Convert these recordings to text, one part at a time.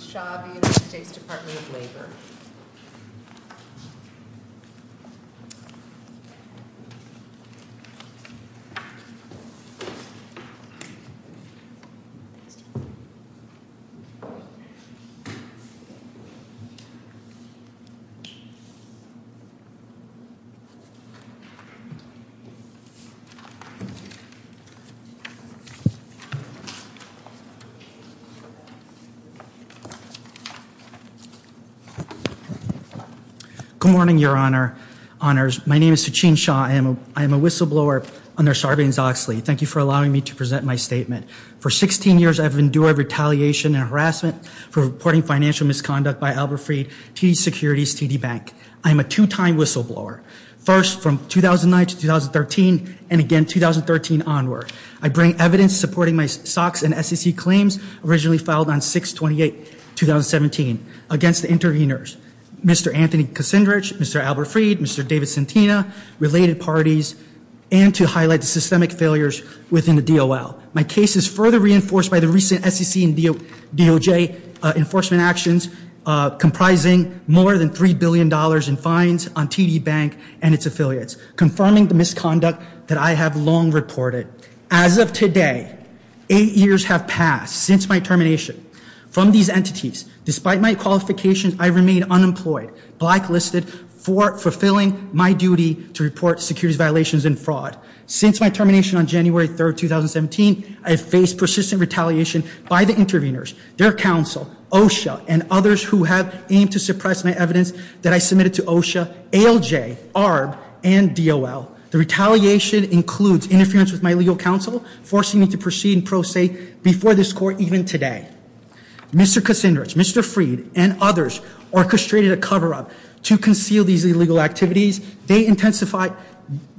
Shaw v. United States Department of Labor Good morning, your honor. Honors. My name is Sachin Shaw. I am a whistleblower under Sarbanes-Oxley. Thank you for allowing me to present my statement. For 16 years, I've endured retaliation and harassment for reporting financial misconduct by Albert Fried, TD Securities, TD Bank. I am a two-time whistleblower, first from 2009 to 2013 and again 2013 onward. I bring evidence supporting my SOX and SEC claims originally filed on 6-28-2017 against the intervenors, Mr. Anthony Kucinich, Mr. Albert Fried, Mr. David Santina, related parties, and to highlight the systemic failures within the DOL. My case is further reinforced by the recent SEC and DOJ enforcement actions comprising more than $3 billion in fines on TD Bank and its affiliates, confirming the misconduct that I have long reported. As of today, eight years have passed since my termination from these entities. Despite my qualifications, I remain unemployed, blacklisted for fulfilling my duty to report securities violations and fraud. Since my termination on January 3, 2017, I've faced persistent retaliation by the intervenors, their counsel, OSHA, and others who have aimed to suppress my evidence that I submitted to OSHA, ALJ, ARB, and DOL. The retaliation includes interference with my legal counsel, forcing me to proceed in pro se before this court even today. Mr. Kucinich, Mr. Fried, and others orchestrated a cover-up to conceal these illegal activities. They intensified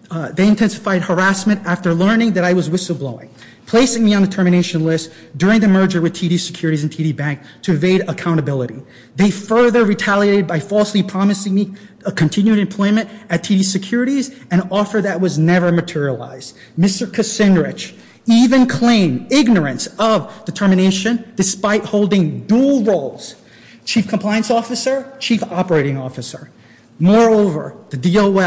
harassment after learning that I was whistleblowing, placing me on the termination list during the merger with TD Securities and TD Bank to evade accountability. They further retaliated by falsely promising me continued employment at TD Securities, an offer that was never materialized. Mr. Kucinich even claimed ignorance of the termination despite holding dual roles, chief compliance officer, chief operating officer. Moreover, the DOL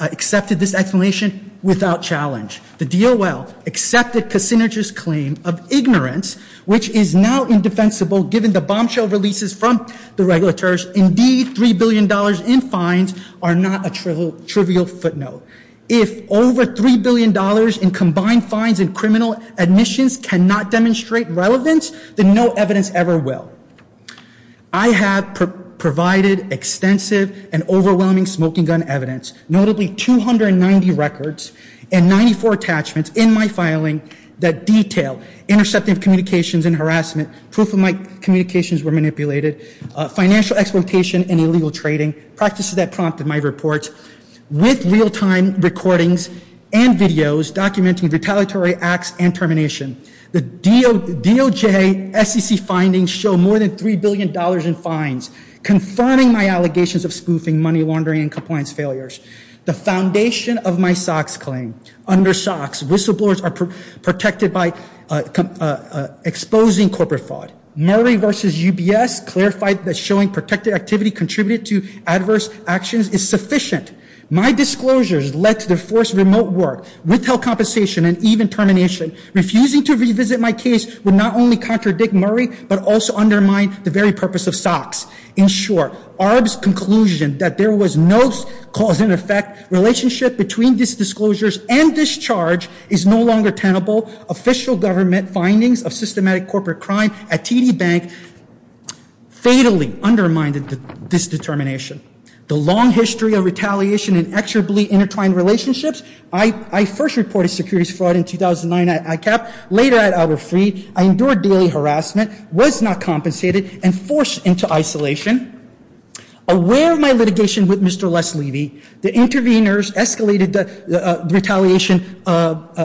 accepted this explanation without challenge. The DOL accepted Kucinich's claim of ignorance, which is now indefensible given the bombshell releases from the regulators. Indeed, $3 billion in fines are not a trivial footnote. If over $3 billion in combined fines and criminal admissions cannot demonstrate relevance, then no evidence ever will. I have provided extensive and overwhelming smoking gun evidence, notably 290 records and 94 attachments in my filing that detail interceptive communications and harassment, proof of my communications were manipulated, financial exploitation and illegal trading, practices that prompted my reports, with real-time recordings and videos documenting retaliatory acts and termination. The DOJ SEC findings show more than $3 billion in fines, confirming my allegations of spoofing, money laundering and compliance failures. The foundation of my SOX claim, under SOX, whistleblowers are protected by exposing corporate fraud. Murray versus UBS clarified that showing protected activity contributed to adverse actions is sufficient. My disclosures led to the forced remote work, withheld compensation and even termination. Refusing to revisit my case would not only contradict Murray, but also undermine the very purpose of SOX. In short, ARB's conclusion that there was no cause and effect relationship between these disclosures and this charge is no longer tenable. Official government findings of systematic corporate crime at TD Bank fatally undermined this determination. The long history of retaliation and exorbitantly intertwined relationships, I first reported securities fraud in 2009 at ICAP, later at Albert Freed, I endured daily harassment, was not compensated and forced into isolation. Aware of my litigation with Mr. Les Levy, the interveners escalated the retaliation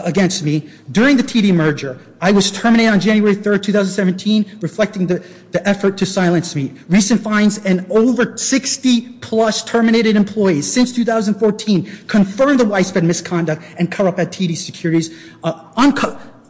against me. During the TD merger, I was terminated on January 3rd, 2017, reflecting the effort to silence me. Recent fines and over 60 plus terminated employees since 2014 confirmed the widespread misconduct and corrupt at TD Securities.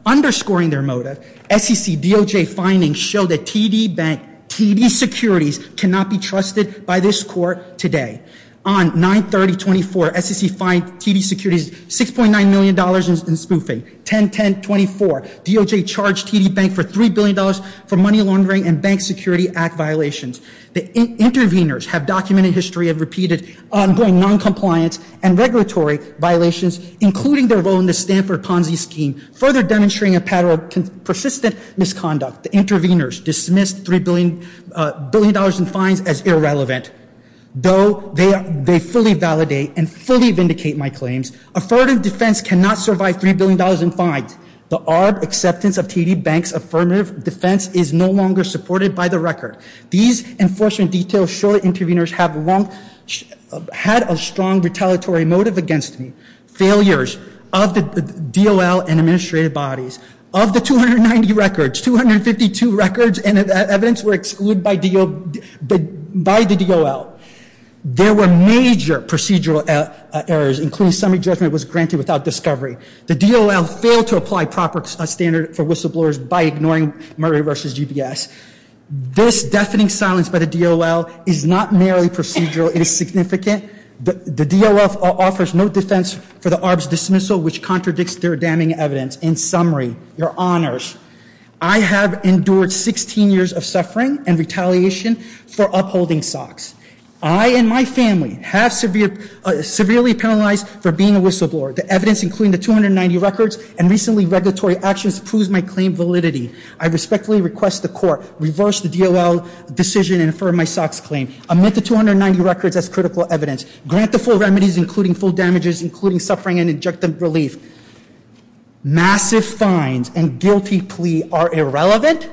Underscoring their motive, SEC DOJ findings show that TD Bank, TD Securities cannot be trusted by this court today. On 9-30-24, SEC fined TD Securities $6.9 million in spoofing. 10-10-24, DOJ charged TD Bank for $3 billion for money laundering and Bank Security Act violations. The interveners have documented history of repeated ongoing noncompliance and regulatory violations, including their role in the Stanford Ponzi scheme, further demonstrating a pattern of persistent misconduct. The interveners dismissed $3 billion in fines as irrelevant, though they fully validate and fully vindicate my claims. Affirmative defense cannot survive $3 billion in fines. The ARB acceptance of TD Bank's affirmative defense is no longer supported by the record. These enforcement details show the interveners had a strong retaliatory motive against me, failures of the DOL and administrative bodies. Of the 290 records, 252 records and evidence were excluded by the DOL. There were major procedural errors, including summary judgment was granted without discovery. The DOL failed to apply proper standard for whistleblowers by ignoring Murray v. GBS. This deafening silence by the DOL is not merely procedural, it is significant. The DOL offers no defense for the ARB's dismissal, which contradicts their damning evidence. In summary, your honors, I have endured 16 years of suffering and retaliation for upholding SOX. I and my family have severely penalized for being a whistleblower. The evidence, including the 290 records and recently regulatory actions, proves my claim validity. I respectfully request the court reverse the DOL decision and infer my SOX claim. Amid the 290 records as critical evidence, grant the full remedies, including full damages, including suffering and injunctive relief. Massive fines and guilty plea are irrelevant.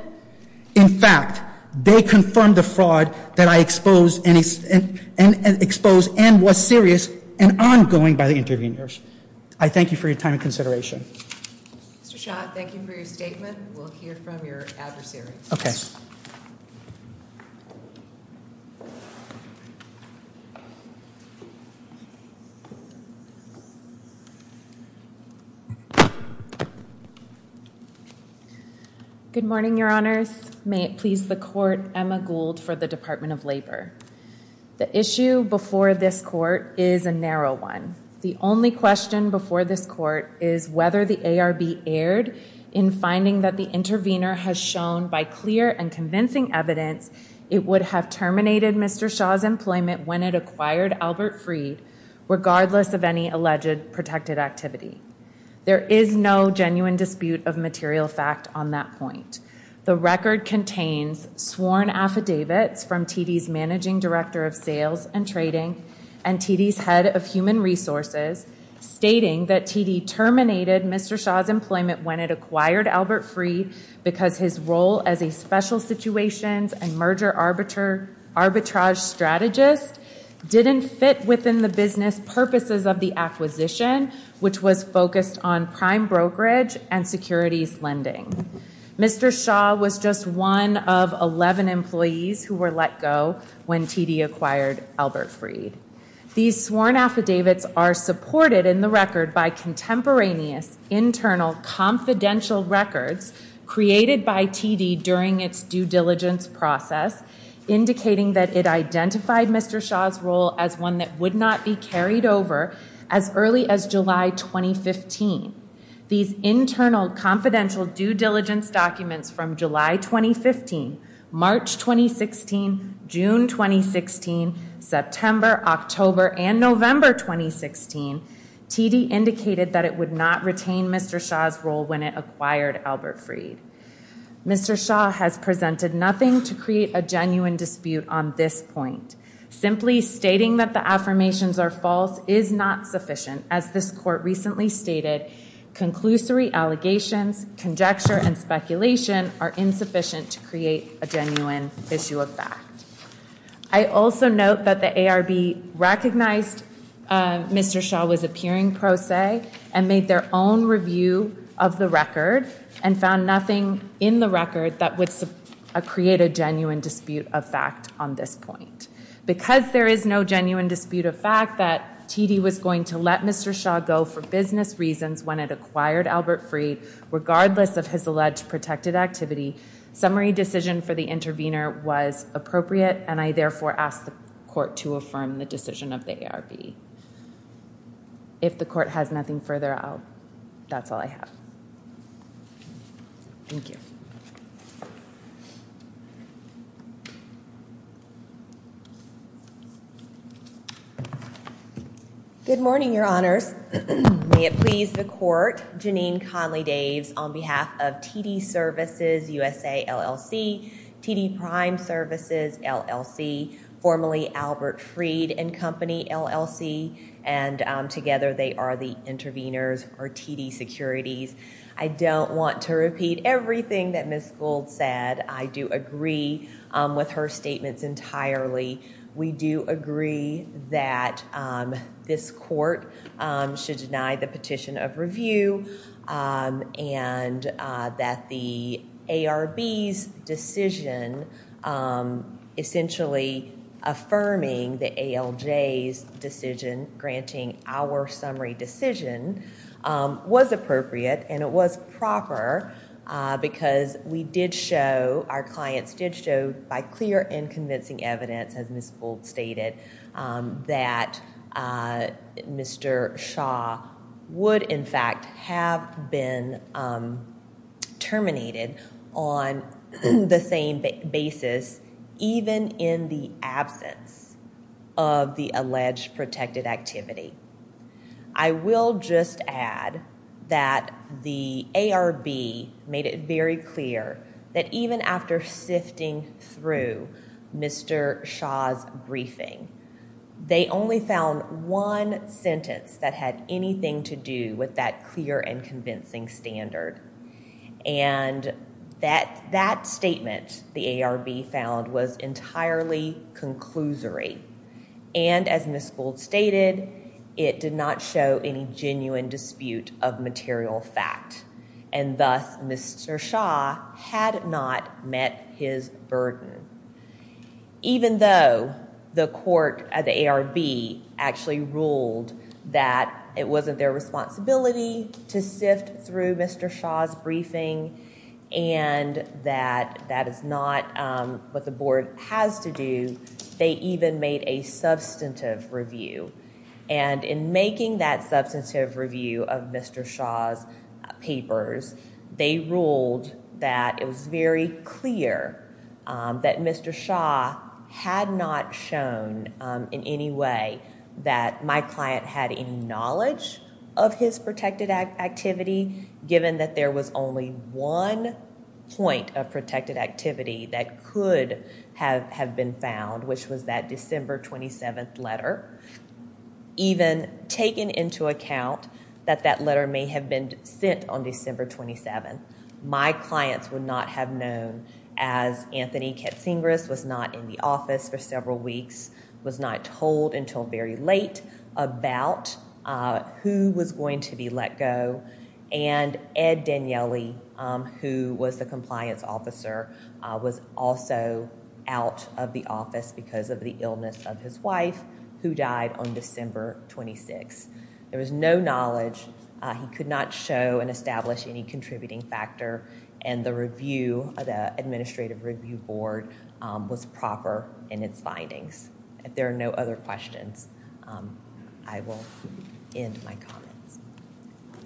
In fact, they confirm the fraud that I exposed and was serious and ongoing by the interveners. I thank you for your time and consideration. Mr. Schott, thank you for your statement. We'll hear from your adversary. Okay. Good morning, your honors. May it please the court, Emma Gould for the Department of Labor. The issue before this court is a narrow one. The only question before this court is whether the ARB erred in finding that the intervener has shown by clear and convincing evidence it would have terminated Mr. Shaw's employment when it acquired Albert Freed regardless of any alleged protected activity. There is no genuine dispute of material fact on that point. The record contains sworn affidavits from TD's managing director of sales and trading and TD's head of human resources stating that TD terminated Mr. Shaw's employment when it acquired Albert Freed because his role as a special situations and merger arbitrage strategist didn't fit within the business purposes of the acquisition, which was focused on prime brokerage and securities lending. Mr. Shaw was just one of 11 employees who were let go when TD acquired Albert Freed. These sworn affidavits are supported in the record by contemporaneous internal confidential records created by TD during its due diligence process indicating that it identified Mr. Shaw's role as one that would not be carried over as early as July 2015. These internal confidential due diligence documents from July 2015, March 2016, June 2016, September, October, and November 2016 TD indicated that it would not retain Mr. Shaw's role when it acquired Albert Freed. Mr. Shaw has presented nothing to create a genuine dispute on this point. Simply stating that the affirmations are false is not sufficient as this court recently stated conclusory allegations, conjecture, and speculation are insufficient to create a genuine issue of fact. I also note that the ARB recognized Mr. Shaw was appearing pro se and made their own review of the record and found nothing in the record that would create a genuine dispute of fact on this point. Because there is no genuine dispute of fact that TD was going to let Mr. Shaw go for business reasons when it acquired Albert Freed regardless of his alleged protected activity, summary decision for the intervener was appropriate and I therefore ask the court to affirm the decision of the ARB. If the court has nothing further, that's all I have. Good morning, your honors. May it please the court. Janine Conley-Daves on behalf of TD Services USA LLC, TD Prime Services LLC, formerly Albert Freed and Company LLC, and together they are the interveners for TD Securities. I don't want to repeat everything that Ms. Gould said. I do agree with her statements entirely. We do agree that this court should deny the petition of review and that the ARB's decision essentially affirming the ALJ's decision, granting our summary decision, was appropriate and it was proper because we did show, our clients did show by clear and convincing evidence as Ms. Gould stated, that Mr. Shaw would in fact have been terminated on the same basis even in the absence of the alleged protected activity. I will just add that the ARB made it very clear that even after sifting through Mr. Shaw's briefing, they only found one sentence that had anything to do with that clear and convincing standard and that statement the ARB found was entirely conclusory and as Ms. Gould stated, it did not show any genuine dispute of material fact and thus Mr. Shaw had not met his burden. Even though the ARB actually ruled that it wasn't their responsibility to sift through Mr. Shaw's briefing and that that is not what the board has to do, they even made a substantive review and in making that substantive review of Mr. Shaw's papers, they ruled that it was very clear that Mr. Shaw had not shown in any way that my client had any knowledge of his protected activity given that there was only one point of protected activity that could have been found which was that December 27th letter. Even taking into account that that letter may have been sent on December 27th, my clients would not have known as Anthony Katsingris was not in the office for several weeks, was not told until very late about who was going to be let go and Ed Daniele who was the compliance officer was also out of the office because of the illness of his wife who died on December 26th. There was no knowledge. He could not show and establish any contributing factor and the review, the administrative review board was proper in its findings. If there are no other questions, I will end my comments.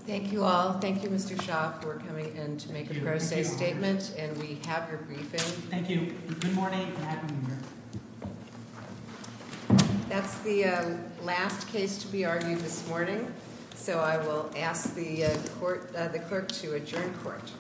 Thank you all. Thank you Mr. Shaw for coming in to make a pro se statement and we have your briefing. Thank you. Good morning. Happy New Year. That's the last case to be argued this morning so I will ask the clerk to adjourn court.